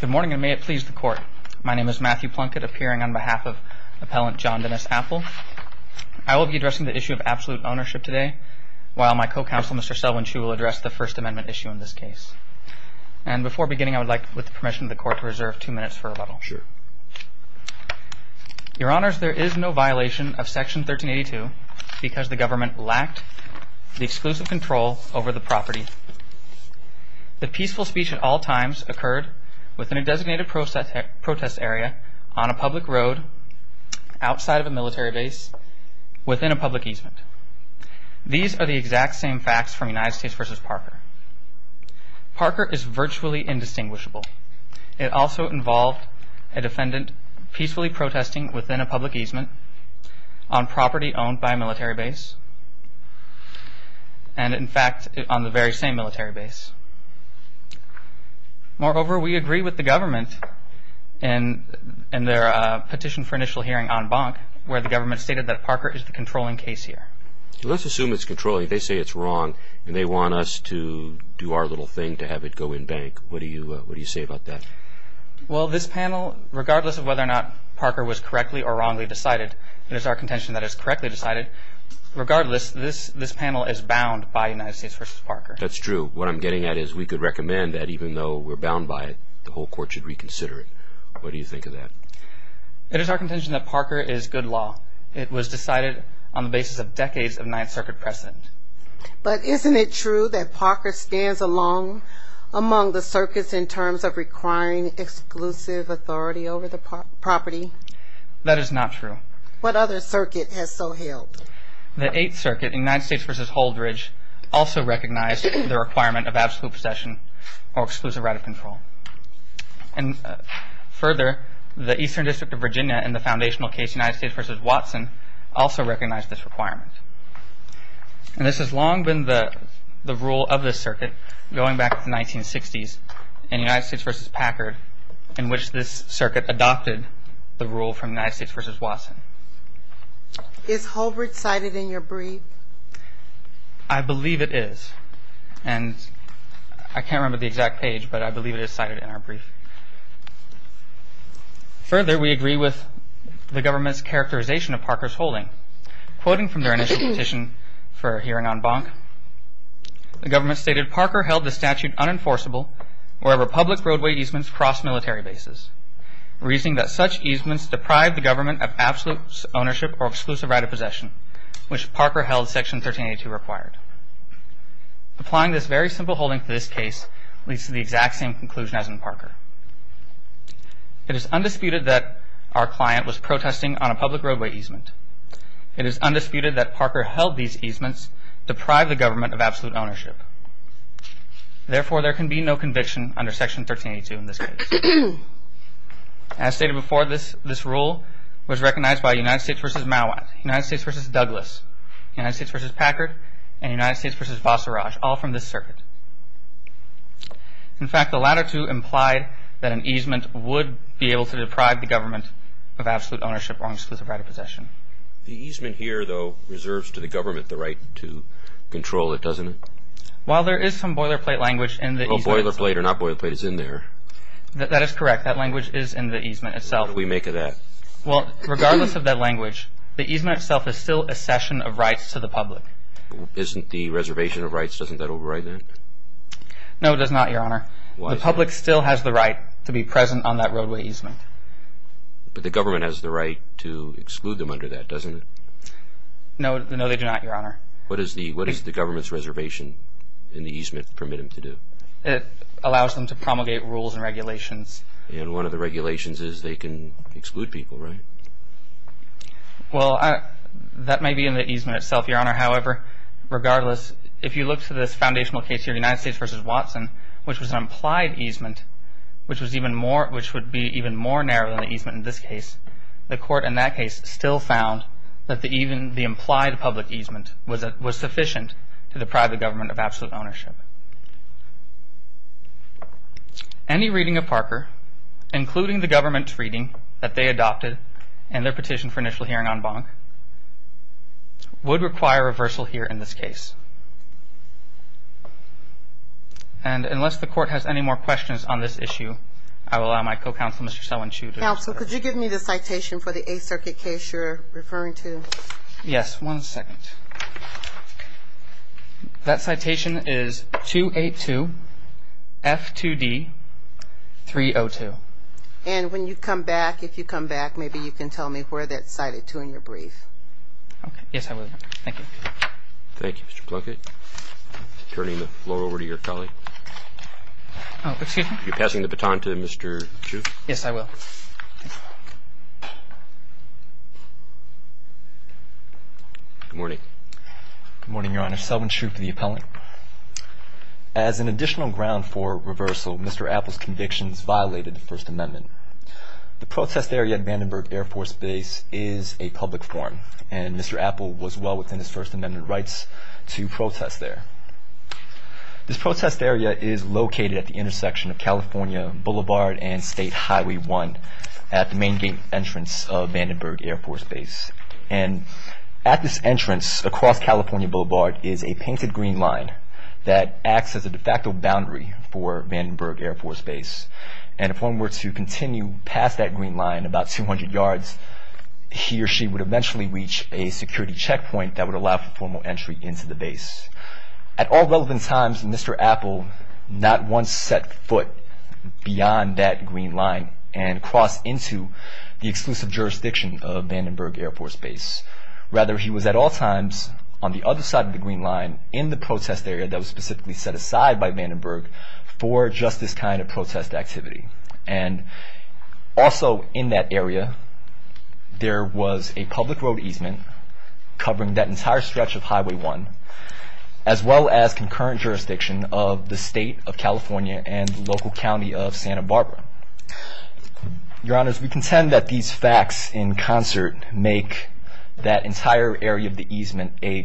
Good morning and may it please the court. My name is Matthew Plunkett appearing on behalf of appellant John Dennis Apel. I will be addressing the issue of absolute ownership today while my co-counsel Mr. Selwyn Chu will address the First Amendment issue in this case. And before beginning I would like with the permission of the court to reserve two minutes for rebuttal. Sure. Your honors there is no violation of section 1382 because the government lacked the exclusive control over the property. The peaceful speech at all times occurred within a designated protest area on a public road outside of a military base within a public easement. These are the exact same facts from United States v. Parker. Parker is virtually indistinguishable. It also involved a defendant peacefully protesting within a public easement on property owned by a military base and in fact on the very same military base. Moreover we agree with the government in their petition for initial hearing on Bonk where the government stated that Parker is the controlling case here. Let's assume it's controlling. They say it's wrong and they want us to do our little thing to have it go in bank. What do you what do you say about that? Well this panel regardless of whether or not Parker was correctly or wrongly decided, it is our contention that is correctly decided. Regardless this this panel is bound by United States v. Parker. That's true what I'm getting at is we could recommend that even though we're bound by it the whole court should reconsider it. What do you think of that? It is our contention that Parker is good law. It was decided on the basis of decades of Ninth Circuit precedent. But isn't it true that Parker stands alone among the circuits in terms of requiring exclusive authority over the property? That is not true. What other circuit has so held? The Eighth Circuit in United States v. Holdridge also recognized the requirement of absolute possession or exclusive right of control. And further the Eastern District of Virginia in the foundational case United States v. Watson also recognized this requirement. And this has long been the the rule of this circuit going back to the 1960s in United States v. Is Holdridge cited in your brief? I believe it is and I can't remember the exact page but I believe it is cited in our brief. Further we agree with the government's characterization of Parker's holding. Quoting from their initial petition for hearing on Bonk, the government stated Parker held the statute unenforceable where Republic roadway easements cross military bases. Reasoning that such easements deprive the government of absolute ownership or exclusive right of possession which Parker held section 1382 required. Applying this very simple holding to this case leads to the exact same conclusion as in Parker. It is undisputed that our client was protesting on a public roadway easement. It is undisputed that Parker held these easements deprive the government of absolute ownership or exclusive right of possession. In fact the latter two implied that an easement would be able to deprive the government of absolute ownership or exclusive right of possession. The easement here though reserves to the government the right to control it, doesn't it? While there is some boilerplate language in the easement itself. Boilerplate or not boilerplate is in there. That is correct. That language is in the easement itself. What do we make of that? Well regardless of that language, the easement itself is still a cession of rights to the public. Isn't the reservation of rights, doesn't that override that? No it does not, your honor. The public still has the right to be present on that roadway easement. But the government has the right to exclude them under that, doesn't it? No they do not, your honor. What does the government's reservation in the easement permit them to do? It allows them to promulgate rules and regulations. And one of the regulations is they can exclude people, right? Well that may be in the easement itself, your honor. However, regardless, if you look to this foundational case here, United States v. Watson, which was an implied easement, which would be even more narrow than the easement in this case, the court in that case still found that the implied public easement was sufficient to deprive the government of absolute ownership. Any reading of Parker, including the government's reading that they adopted in their petition for initial hearing on Bonk, would require reversal here in this case. And unless the court has any more questions on this issue, I will allow my co-counsel, Mr. Selwin-Chu. Counsel, could you give me the citation for the Eighth Circuit case you're referring to? Yes, one second. That citation is 282 F2D 302. And when you come back, if you come back, maybe you can tell me where that's cited to in your brief. Okay. Yes, I will, your honor. Thank you. Thank you, Mr. Plunkett. Turning the floor over to your colleague. Oh, excuse me? You're passing the baton to Mr. Chu? Yes, I will. Good morning. Good morning, your honor. Selwin-Chu for the appellant. As an additional ground for reversal, Mr. Apple's convictions violated the First Amendment. The protest area at Vandenberg Air Force Base is a public forum, and Mr. Apple was well within his First Amendment rights to protest there. This protest area is located at the intersection of California Boulevard and State Highway 1 at the main entrance of Vandenberg Air Force Base. And at this entrance, across California Boulevard, is a painted green line that acts as a de facto boundary for Vandenberg Air Force Base. And if one were to continue past that green line about 200 yards, he or she would eventually reach a security checkpoint that would allow for formal entry into the base. At all relevant times, Mr. Apple not once set foot beyond that green line and crossed into the exclusive jurisdiction of Vandenberg Air Force Base. Rather, he was at all times on the other side of the green line in the protest area that was specifically set aside by Vandenberg for just this kind of protest activity. And also in that area, there was a public road easement covering that entire stretch of Highway 1, as well as concurrent jurisdiction of the state of California and the local county of Santa Barbara. Your Honors, we contend that these facts in concert make that entire area of the easement a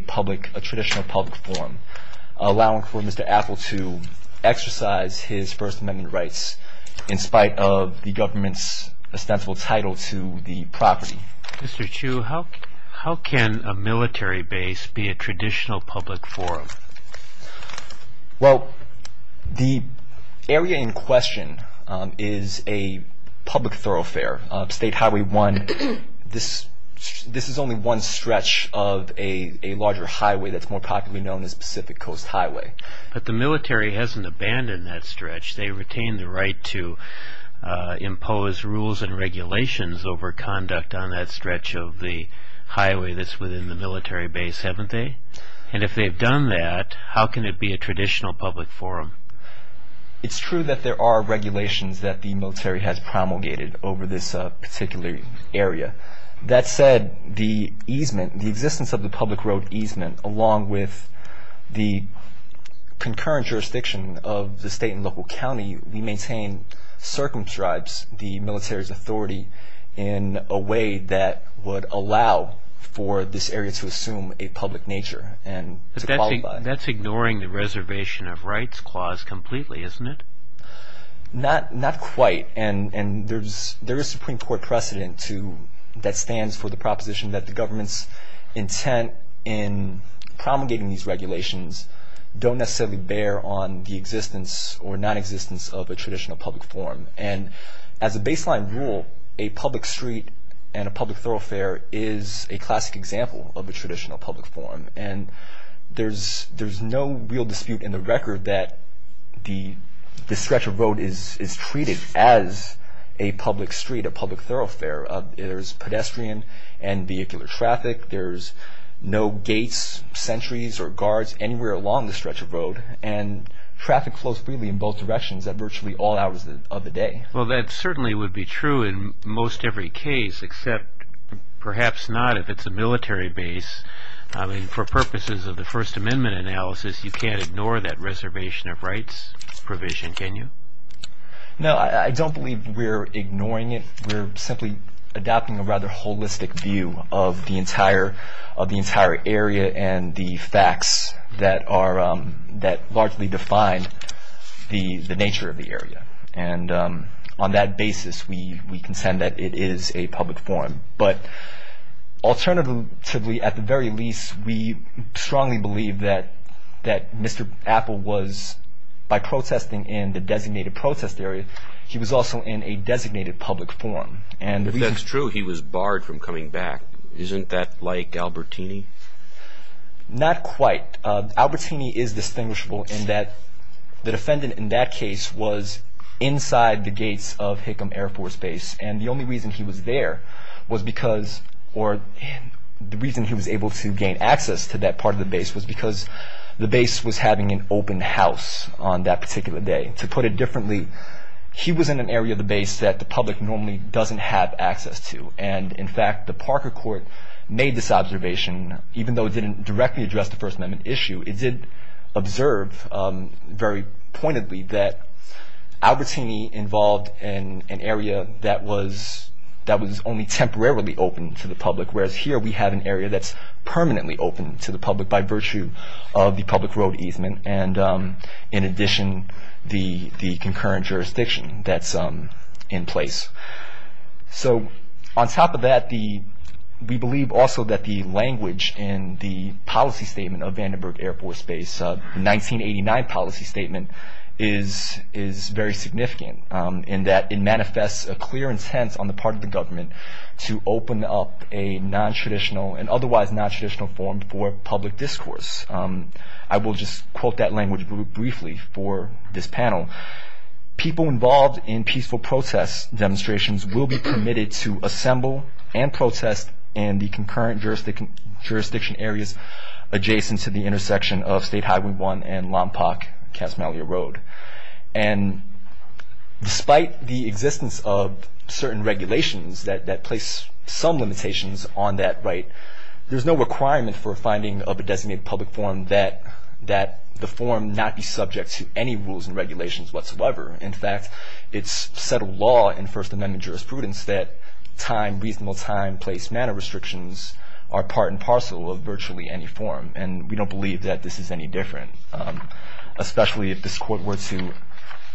traditional public forum, allowing for Mr. Apple to exercise his First Amendment rights in spite of the government's ostensible title to the property. Mr. Chu, how can a military base be a traditional public forum? Well, the area in question is a public thoroughfare, State Highway 1. This is only one stretch of a larger highway that's more popularly known as Pacific Coast Highway. But the military hasn't abandoned that stretch. They retain the right to impose rules and regulations over conduct on that stretch of the highway that's within the military base, haven't they? And if they've done that, how can it be a traditional public forum? It's true that there are regulations that the military has promulgated over this particular area. That said, the easement, the existence of the public road easement, along with the concurrent jurisdiction of the state and local county, we maintain circumscribes the military's authority in a way that would allow for this area to assume a public nature and to qualify. That's ignoring the reservation of rights clause completely, isn't it? Not quite. And there is Supreme Court precedent that stands for the proposition that the government's intent in promulgating these regulations don't necessarily bear on the existence or nonexistence of a traditional public forum. And as a baseline rule, a public street and a public thoroughfare is a classic example of a traditional public forum. And there's no real dispute in the record that the stretch of road is treated as a public street, a public thoroughfare. There's pedestrian and vehicular traffic. There's no gates, sentries, or guards anywhere along the stretch of road. And traffic flows freely in both directions at virtually all hours of the day. Well, that certainly would be true in most every case, except perhaps not if it's a military base. I mean, for purposes of the First Amendment analysis, you can't ignore that reservation of rights provision, can you? No, I don't believe we're ignoring it. We're simply adopting a rather holistic view of the entire area and the facts that largely define the nature of the area. And on that basis, we consent that it is a public forum. But alternatively, at the very least, we strongly believe that Mr. Apple was, by protesting in the designated protest area, he was also in a designated public forum. If that's true, he was barred from coming back. Isn't that like Albertini? Not quite. Albertini is distinguishable in that the defendant in that case was inside the gates of Hickam Air Force Base. And the only reason he was there was because or the reason he was able to gain access to that part of the base was because the base was having an open house on that particular day. To put it differently, he was in an area of the base that the public normally doesn't have access to. And, in fact, the Parker court made this observation, even though it didn't directly address the First Amendment issue. It did observe very pointedly that Albertini involved in an area that was that was only temporarily open to the public, whereas here we have an area that's permanently open to the public by virtue of the public road easement. And in addition, the concurrent jurisdiction that's in place. So on top of that, the we believe also that the language in the policy statement of Vandenberg Air Force Base 1989 policy statement is is very significant in that it manifests a clear intent on the part of the government to open up a nontraditional and otherwise nontraditional form for public discourse. I will just quote that language briefly for this panel. People involved in peaceful protest demonstrations will be permitted to assemble and protest in the concurrent jurisdiction areas adjacent to the intersection of State Highway 1 and Lompoc-Casamalia Road. And despite the existence of certain regulations that place some limitations on that right, there's no requirement for finding of a designated public form that that the form not be subject to any rules and regulations whatsoever. In fact, it's settled law in First Amendment jurisprudence that time, reasonable time, place, manner restrictions are part and parcel of virtually any form. And we don't believe that this is any different, especially if this court were to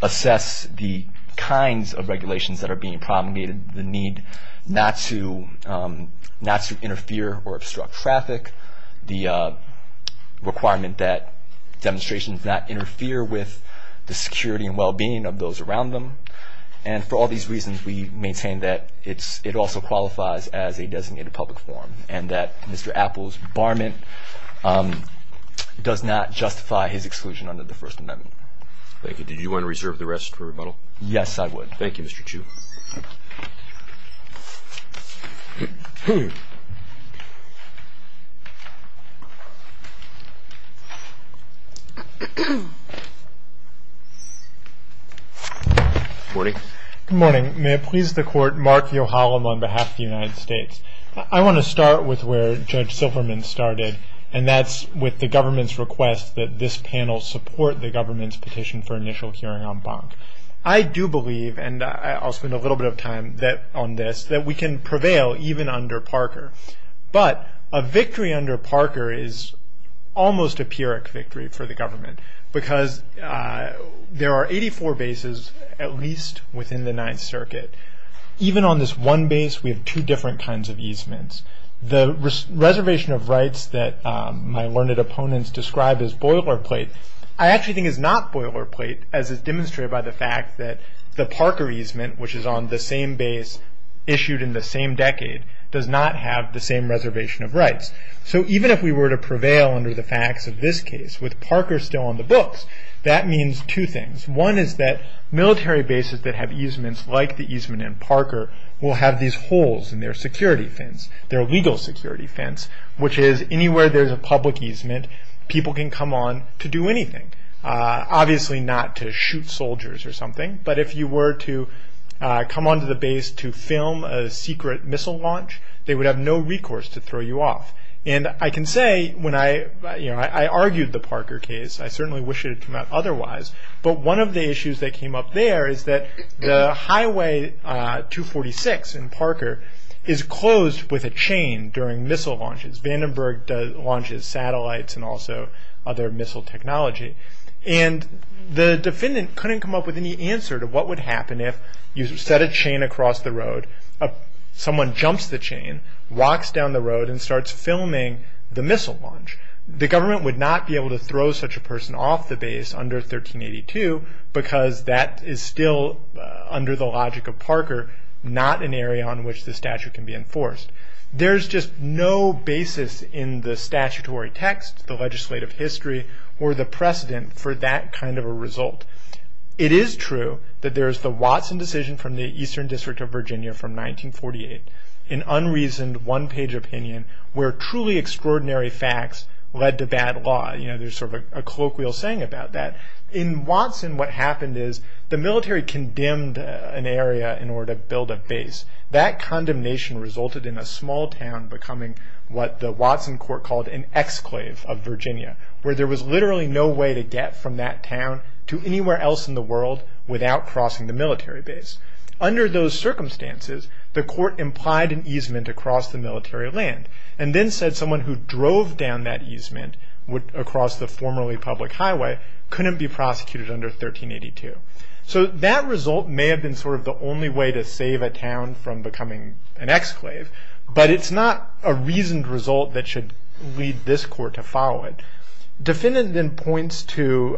assess the kinds of regulations that are being promulgated, the need not to not to interfere or obstruct traffic, the requirement that demonstrations not interfere with the security and well-being of those around them. And for all these reasons, we maintain that it also qualifies as a designated public form and that Mr. Apples' barment does not justify his exclusion under the First Amendment. Thank you. Did you want to reserve the rest for rebuttal? Yes, I would. Thank you, Mr. Chu. Good morning. May it please the Court, Mark Viohalem on behalf of the United States. I want to start with where Judge Silverman started, and that's with the government's request that this panel support the government's petition for initial hearing on Bonk. I do believe, and I'll spend a little bit of time on this, that we can prevail even under Parker. But a victory under Parker is almost a Pyrrhic victory for the government because there are 84 bases at least within the Ninth Circuit. Even on this one base, we have two different kinds of easements. The reservation of rights that my learned opponents describe as boilerplate, I actually think is not boilerplate, as is demonstrated by the fact that the Parker easement, which is on the same base issued in the same decade, does not have the same reservation of rights. So even if we were to prevail under the facts of this case, with Parker still on the books, that means two things. One is that military bases that have easements like the easement in Parker will have these holes in their security fence, their legal security fence, which is anywhere there's a public easement, people can come on to do anything. Obviously not to shoot soldiers or something, but if you were to come onto the base to film a secret missile launch, they would have no recourse to throw you off. And I can say, I argued the Parker case, I certainly wish it had come out otherwise, but one of the issues that came up there is that the Highway 246 in Parker is closed with a chain during missile launches. Vandenberg launches satellites and also other missile technology. And the defendant couldn't come up with any answer to what would happen if you set a chain across the road, someone jumps the chain, walks down the road, and starts filming the missile launch. The government would not be able to throw such a person off the base under 1382, because that is still under the logic of Parker, not an area on which the statute can be enforced. There's just no basis in the statutory text, the legislative history, or the precedent for that kind of a result. It is true that there's the Watson decision from the Eastern District of Virginia from 1948, an unreasoned one-page opinion where truly extraordinary facts led to bad law. There's sort of a colloquial saying about that. In Watson, what happened is the military condemned an area in order to build a base. That condemnation resulted in a small town becoming what the Watson court called an exclave of Virginia, where there was literally no way to get from that town to anywhere else in the world without crossing the military base. Under those circumstances, the court implied an easement across the military land, and then said someone who drove down that easement across the formerly public highway couldn't be prosecuted under 1382. So that result may have been sort of the only way to save a town from becoming an exclave, but it's not a reasoned result that should lead this court to follow it. Defendant then points to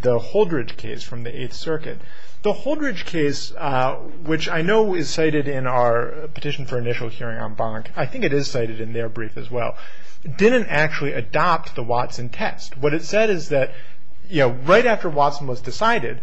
the Holdridge case from the Eighth Circuit. The Holdridge case, which I know is cited in our petition for initial hearing on Bonk, I think it is cited in their brief as well, didn't actually adopt the Watson test. What it said is that right after Watson was decided,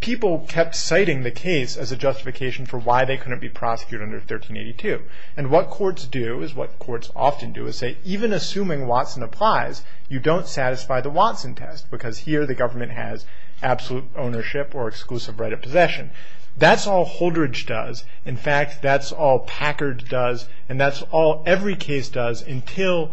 people kept citing the case as a justification for why they couldn't be prosecuted under 1382. And what courts do, is what courts often do, is say even assuming Watson applies, you don't satisfy the Watson test because here the government has absolute ownership or exclusive right of possession. That's all Holdridge does. In fact, that's all Packard does, and that's all every case does until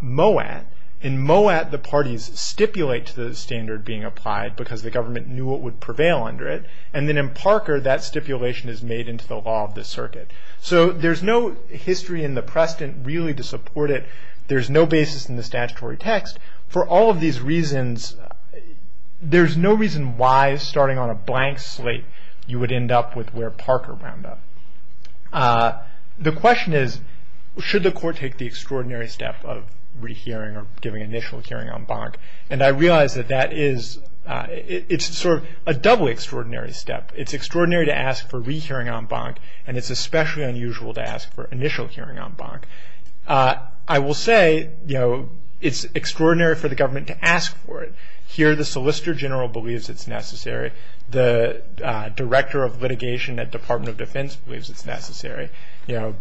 Moat. In Moat, the parties stipulate to the standard being applied because the government knew what would prevail under it. And then in Parker, that stipulation is made into the law of the circuit. So there's no history in the precedent really to support it. There's no basis in the statutory text. For all of these reasons, there's no reason why, starting on a blank slate, you would end up with where Parker wound up. The question is, should the court take the extraordinary step of rehearing or giving initial hearing en banc? And I realize that that is, it's sort of a double extraordinary step. It's extraordinary to ask for rehearing en banc, and it's especially unusual to ask for initial hearing en banc. I will say, you know, it's extraordinary for the government to ask for it. Here the Solicitor General believes it's necessary. The Director of Litigation at Department of Defense believes it's necessary. You know,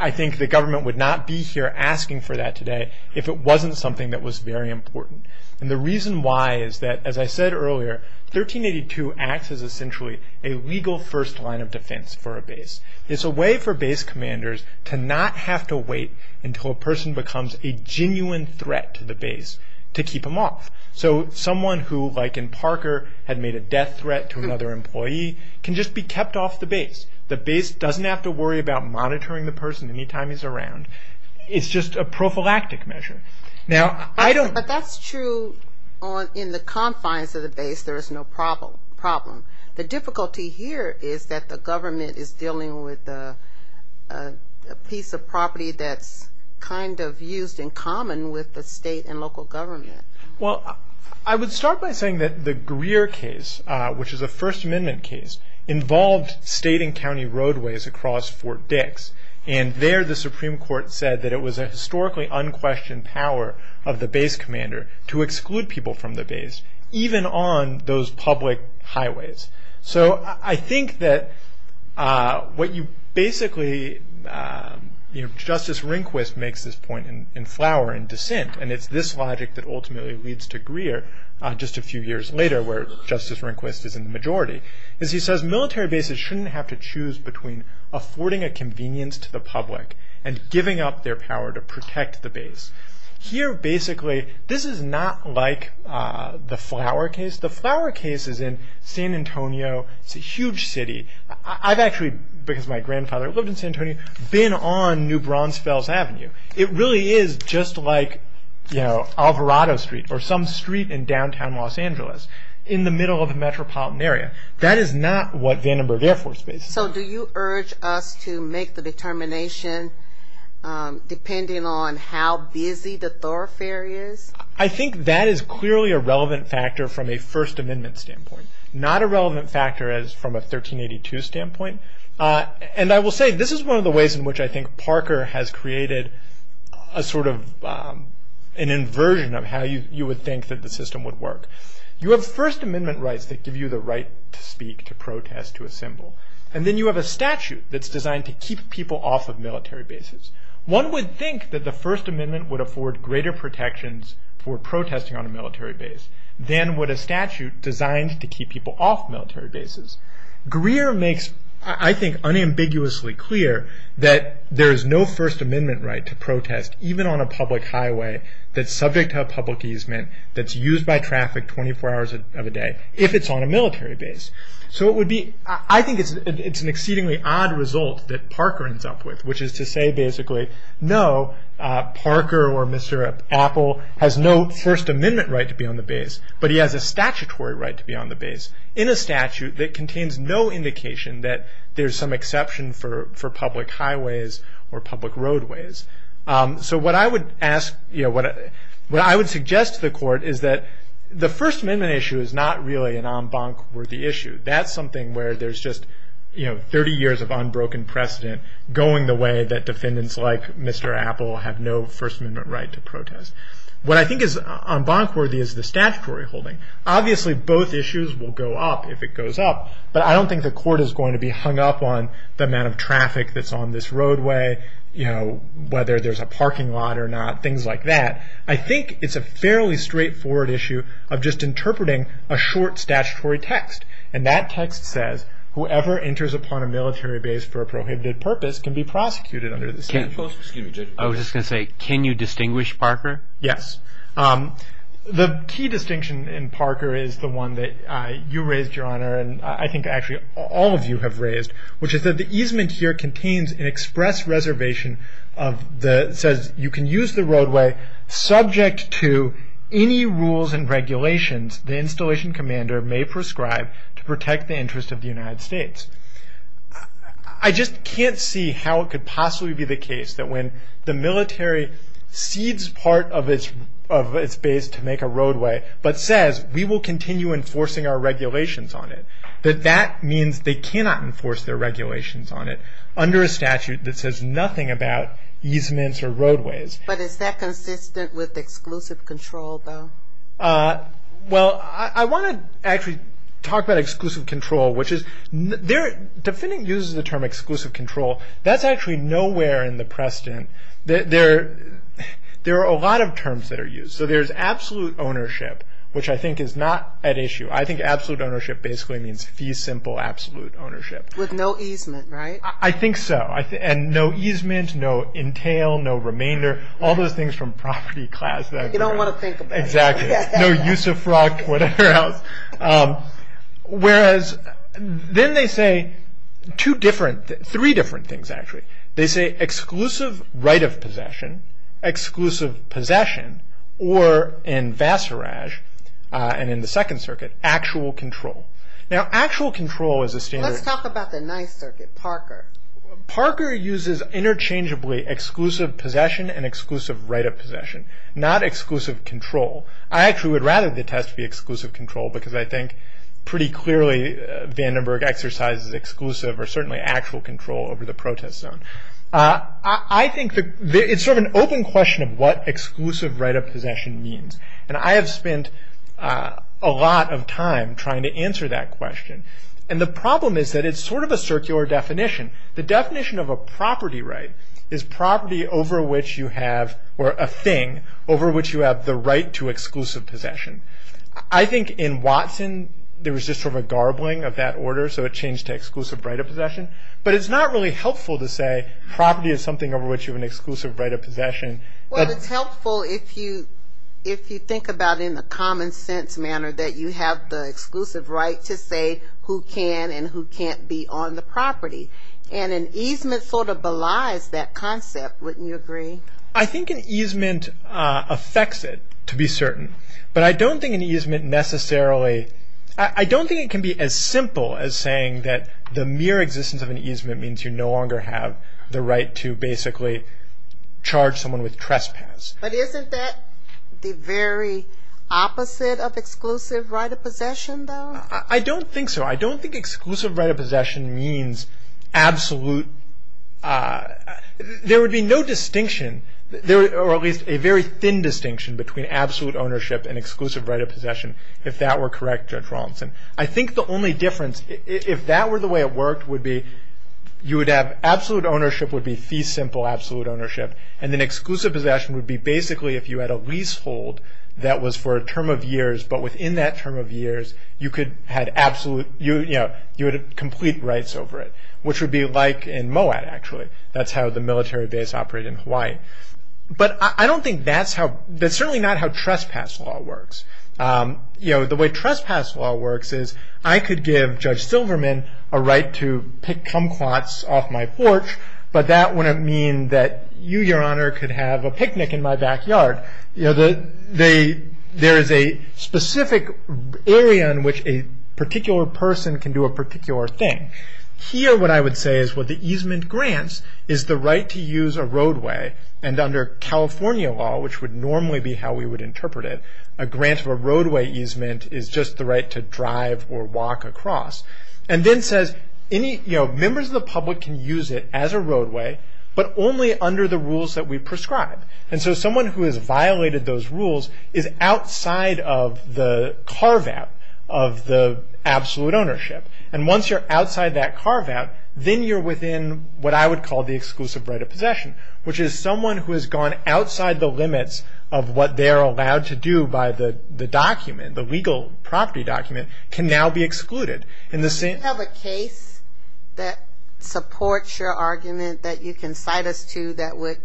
I think the government would not be here asking for that today if it wasn't something that was very important. And the reason why is that, as I said earlier, 1382 acts as essentially a legal first line of defense for a base. It's a way for base commanders to not have to wait until a person becomes a genuine threat to the base to keep them off. So someone who, like in Parker, had made a death threat to another employee can just be kept off the base. The base doesn't have to worry about monitoring the person any time he's around. It's just a prophylactic measure. Now, I don't... But that's true in the confines of the base. There is no problem. The difficulty here is that the government is dealing with a piece of property that's kind of used in common with the state and local government. Well, I would start by saying that the Greer case, which is a First Amendment case, involved state and county roadways across Fort Dix. And there the Supreme Court said that it was a historically unquestioned power of the base commander to exclude people from the base, even on those public highways. So I think that what you basically... just a few years later, where Justice Rehnquist is in the majority, is he says military bases shouldn't have to choose between affording a convenience to the public and giving up their power to protect the base. Here, basically, this is not like the Flower case. The Flower case is in San Antonio. It's a huge city. I've actually, because my grandfather lived in San Antonio, been on New Brunsfels Avenue. It really is just like Alvarado Street or some street in downtown Los Angeles in the middle of a metropolitan area. That is not what Vandenberg Air Force Base is. So do you urge us to make the determination depending on how busy the thoroughfare is? I think that is clearly a relevant factor from a First Amendment standpoint. Not a relevant factor as from a 1382 standpoint. And I will say, this is one of the ways in which I think Parker has created a sort of an inversion of how you would think that the system would work. You have First Amendment rights that give you the right to speak, to protest, to assemble. And then you have a statute that's designed to keep people off of military bases. One would think that the First Amendment would afford greater protections for protesting on a military base than would a statute designed to keep people off military bases. Greer makes, I think, unambiguously clear that there is no First Amendment right to protest even on a public highway that's subject to a public easement that's used by traffic 24 hours of a day if it's on a military base. So it would be, I think it's an exceedingly odd result that Parker ends up with, which is to say basically, no, Parker or Mr. Apple has no First Amendment right to be on the base, but he has a statutory right to be on the base in a statute that contains no indication that there's some exception for public highways or public roadways. So what I would suggest to the court is that the First Amendment issue is not really an en banc worthy issue. That's something where there's just 30 years of unbroken precedent going the way that defendants like Mr. Apple have no First Amendment right to protest. What I think is en banc worthy is the statutory holding. Obviously, both issues will go up if it goes up, but I don't think the court is going to be hung up on the amount of traffic that's on this roadway, whether there's a parking lot or not, things like that. I think it's a fairly straightforward issue of just interpreting a short statutory text, and that text says, whoever enters upon a military base for a prohibited purpose can be prosecuted under the statute. I was just going to say, can you distinguish Parker? Yes. The key distinction in Parker is the one that you raised, Your Honor, and I think actually all of you have raised, which is that the easement here contains an express reservation that says you can use the roadway subject to any rules and regulations the installation commander may prescribe to protect the interest of the United States. I just can't see how it could possibly be the case that when the military cedes part of its base to make a roadway, but says we will continue enforcing our regulations on it, that that means they cannot enforce their regulations on it under a statute that says nothing about easements or roadways. But is that consistent with exclusive control, though? Well, I want to actually talk about exclusive control. Defending uses the term exclusive control. That's actually nowhere in the precedent. There are a lot of terms that are used. So there's absolute ownership, which I think is not at issue. I think absolute ownership basically means fee simple absolute ownership. With no easement, right? I think so, and no easement, no entail, no remainder, all those things from property class. You don't want to think about it. Exactly. No use of fraud, whatever else. Whereas then they say two different, three different things, actually. They say exclusive right of possession, exclusive possession, or in Vassarage and in the Second Circuit, actual control. Now, actual control is a standard. Let's talk about the Ninth Circuit, Parker. Parker uses interchangeably exclusive possession and exclusive right of possession. Not exclusive control. I actually would rather the test be exclusive control because I think pretty clearly Vandenberg exercises exclusive or certainly actual control over the protest zone. I think it's sort of an open question of what exclusive right of possession means. And I have spent a lot of time trying to answer that question. And the problem is that it's sort of a circular definition. The definition of a property right is property over which you have, or a thing, over which you have the right to exclusive possession. I think in Watson there was just sort of a garbling of that order, so it changed to exclusive right of possession. But it's not really helpful to say property is something over which you have an exclusive right of possession. Well, it's helpful if you think about it in a common sense manner that you have the exclusive right to say who can and who can't be on the property. And an easement sort of belies that concept, wouldn't you agree? I think an easement affects it, to be certain. But I don't think an easement necessarily, I don't think it can be as simple as saying that the mere existence of an easement means you no longer have the right to basically charge someone with trespass. But isn't that the very opposite of exclusive right of possession, though? I don't think so. I don't think exclusive right of possession means absolute, there would be no distinction, or at least a very thin distinction between absolute ownership and exclusive right of possession, if that were correct, Judge Rawlinson. I think the only difference, if that were the way it worked, would be you would have absolute ownership would be fee simple absolute ownership, and then exclusive possession would be basically if you had a leasehold that was for a term of years, but within that term of years you would have complete rights over it, which would be like in Moab, actually. That's how the military base operated in Hawaii. But I don't think that's how, that's certainly not how trespass law works. The way trespass law works is I could give Judge Silverman a right to pick kumquats off my porch, but that wouldn't mean that you, Your Honor, could have a picnic in my backyard. There is a specific area in which a particular person can do a particular thing. Here what I would say is what the easement grants is the right to use a roadway, and under California law, which would normally be how we would interpret it, a grant of a roadway easement is just the right to drive or walk across, and then says members of the public can use it as a roadway, but only under the rules that we prescribe. And so someone who has violated those rules is outside of the carve-out of the absolute ownership. And once you're outside that carve-out, then you're within what I would call the exclusive right of possession, which is someone who has gone outside the limits of what they're allowed to do by the document, the legal property document, can now be excluded. Do you have a case that supports your argument that you can cite us to that would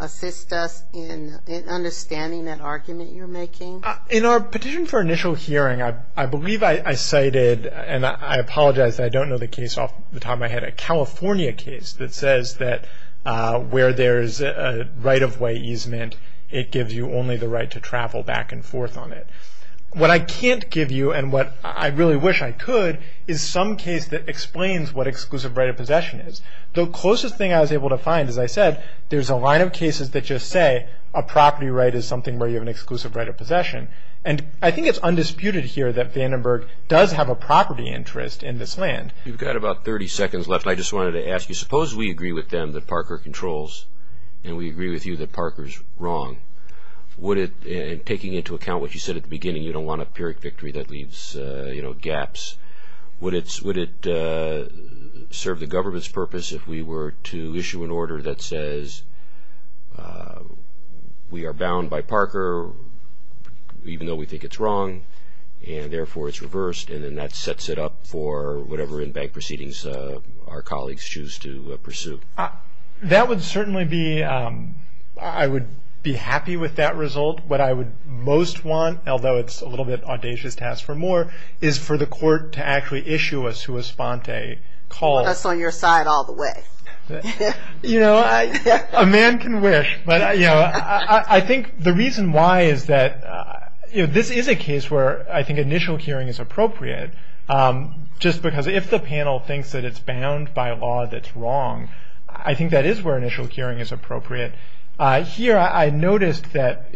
assist us in understanding that argument you're making? In our petition for initial hearing, I believe I cited, and I apologize, I don't know the case off the top of my head, a California case that says that where there's a right-of-way easement, it gives you only the right to travel back and forth on it. What I can't give you, and what I really wish I could, is some case that explains what exclusive right of possession is. The closest thing I was able to find, as I said, there's a line of cases that just say a property right is something where you have an exclusive right of possession. And I think it's undisputed here that Vandenberg does have a property interest in this land. You've got about 30 seconds left. I just wanted to ask you, suppose we agree with them that Parker controls, and we agree with you that Parker's wrong. And taking into account what you said at the beginning, you don't want a Pyrrhic victory that leaves gaps. Would it serve the government's purpose if we were to issue an order that says we are bound by Parker, even though we think it's wrong, and therefore it's reversed, and then that sets it up for whatever in-bank proceedings our colleagues choose to pursue? That would certainly be, I would be happy with that result. What I would most want, although it's a little bit audacious to ask for more, is for the court to actually issue a sua sponte call. Put us on your side all the way. You know, a man can wish. I think the reason why is that this is a case where I think initial hearing is appropriate, just because if the panel thinks that it's bound by a law that's wrong, I think that is where initial hearing is appropriate. Here I noticed that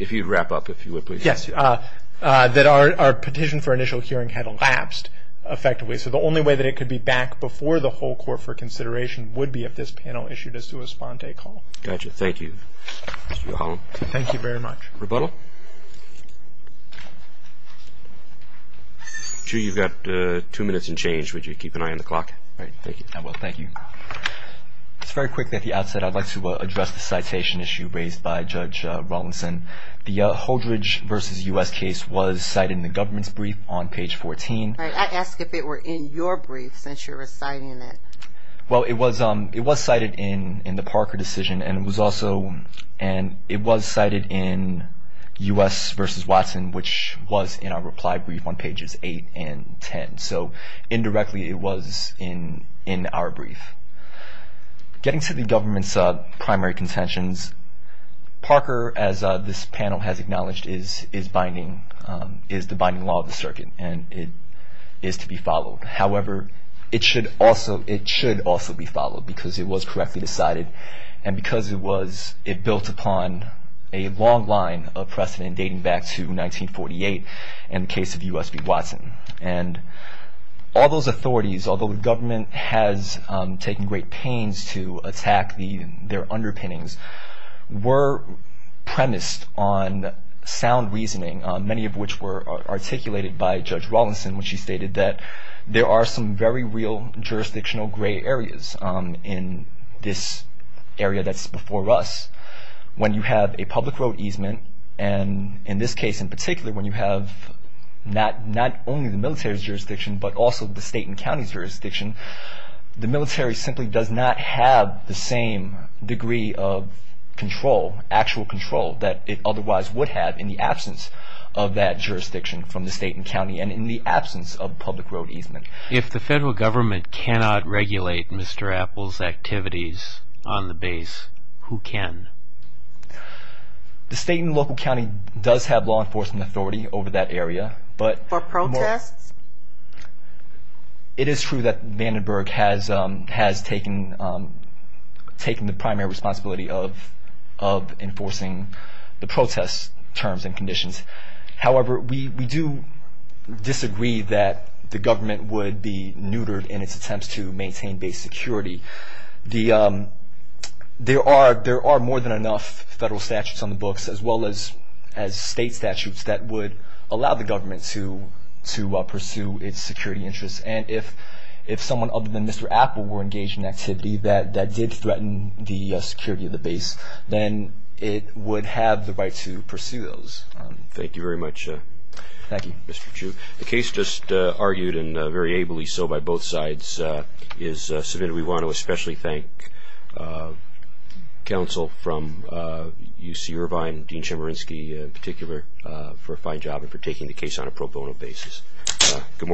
our petition for initial hearing had elapsed effectively, so the only way that it could be back before the whole court for consideration would be if this panel issued a sua sponte call. Thank you. Thank you very much. Rebuttal? Drew, you've got two minutes and change. Would you keep an eye on the clock? All right. Thank you. I will. Thank you. Just very quickly at the outset, I'd like to address the citation issue raised by Judge Rawlinson. The Holdridge v. U.S. case was cited in the government's brief on page 14. I asked if it were in your brief, since you're reciting it. Well, it was cited in the Parker decision, and it was cited in U.S. v. Watson, which was in our reply brief on pages 8 and 10. So indirectly it was in our brief. Getting to the government's primary contentions, Parker, as this panel has acknowledged, is the binding law of the circuit, and it is to be followed. However, it should also be followed because it was correctly decided, and because it built upon a long line of precedent dating back to 1948 in the case of U.S. v. Watson. And all those authorities, although the government has taken great pains to attack their underpinnings, were premised on sound reasoning, many of which were articulated by Judge Rawlinson when she stated that there are some very real jurisdictional gray areas in this area that's before us. When you have a public road easement, and in this case in particular, when you have not only the military's jurisdiction, but also the state and county's jurisdiction, the military simply does not have the same degree of control, actual control, that it otherwise would have in the absence of that jurisdiction from the state and county. And in the absence of public road easement. If the federal government cannot regulate Mr. Apple's activities on the base, who can? The state and local county does have law enforcement authority over that area. For protests? It is true that Vandenberg has taken the primary responsibility of enforcing the protest terms and conditions. However, we do disagree that the government would be neutered in its attempts to maintain base security. There are more than enough federal statutes on the books, as well as state statutes, that would allow the government to pursue its security interests. And if someone other than Mr. Apple were engaged in activity that did threaten the security of the base, then it would have the right to pursue those. Thank you very much, Mr. Chu. The case just argued, and very ably so by both sides, is submitted. We want to especially thank counsel from UC Irvine, Dean Chemerinsky in particular, for a fine job and for taking the case on a pro bono basis. Good morning.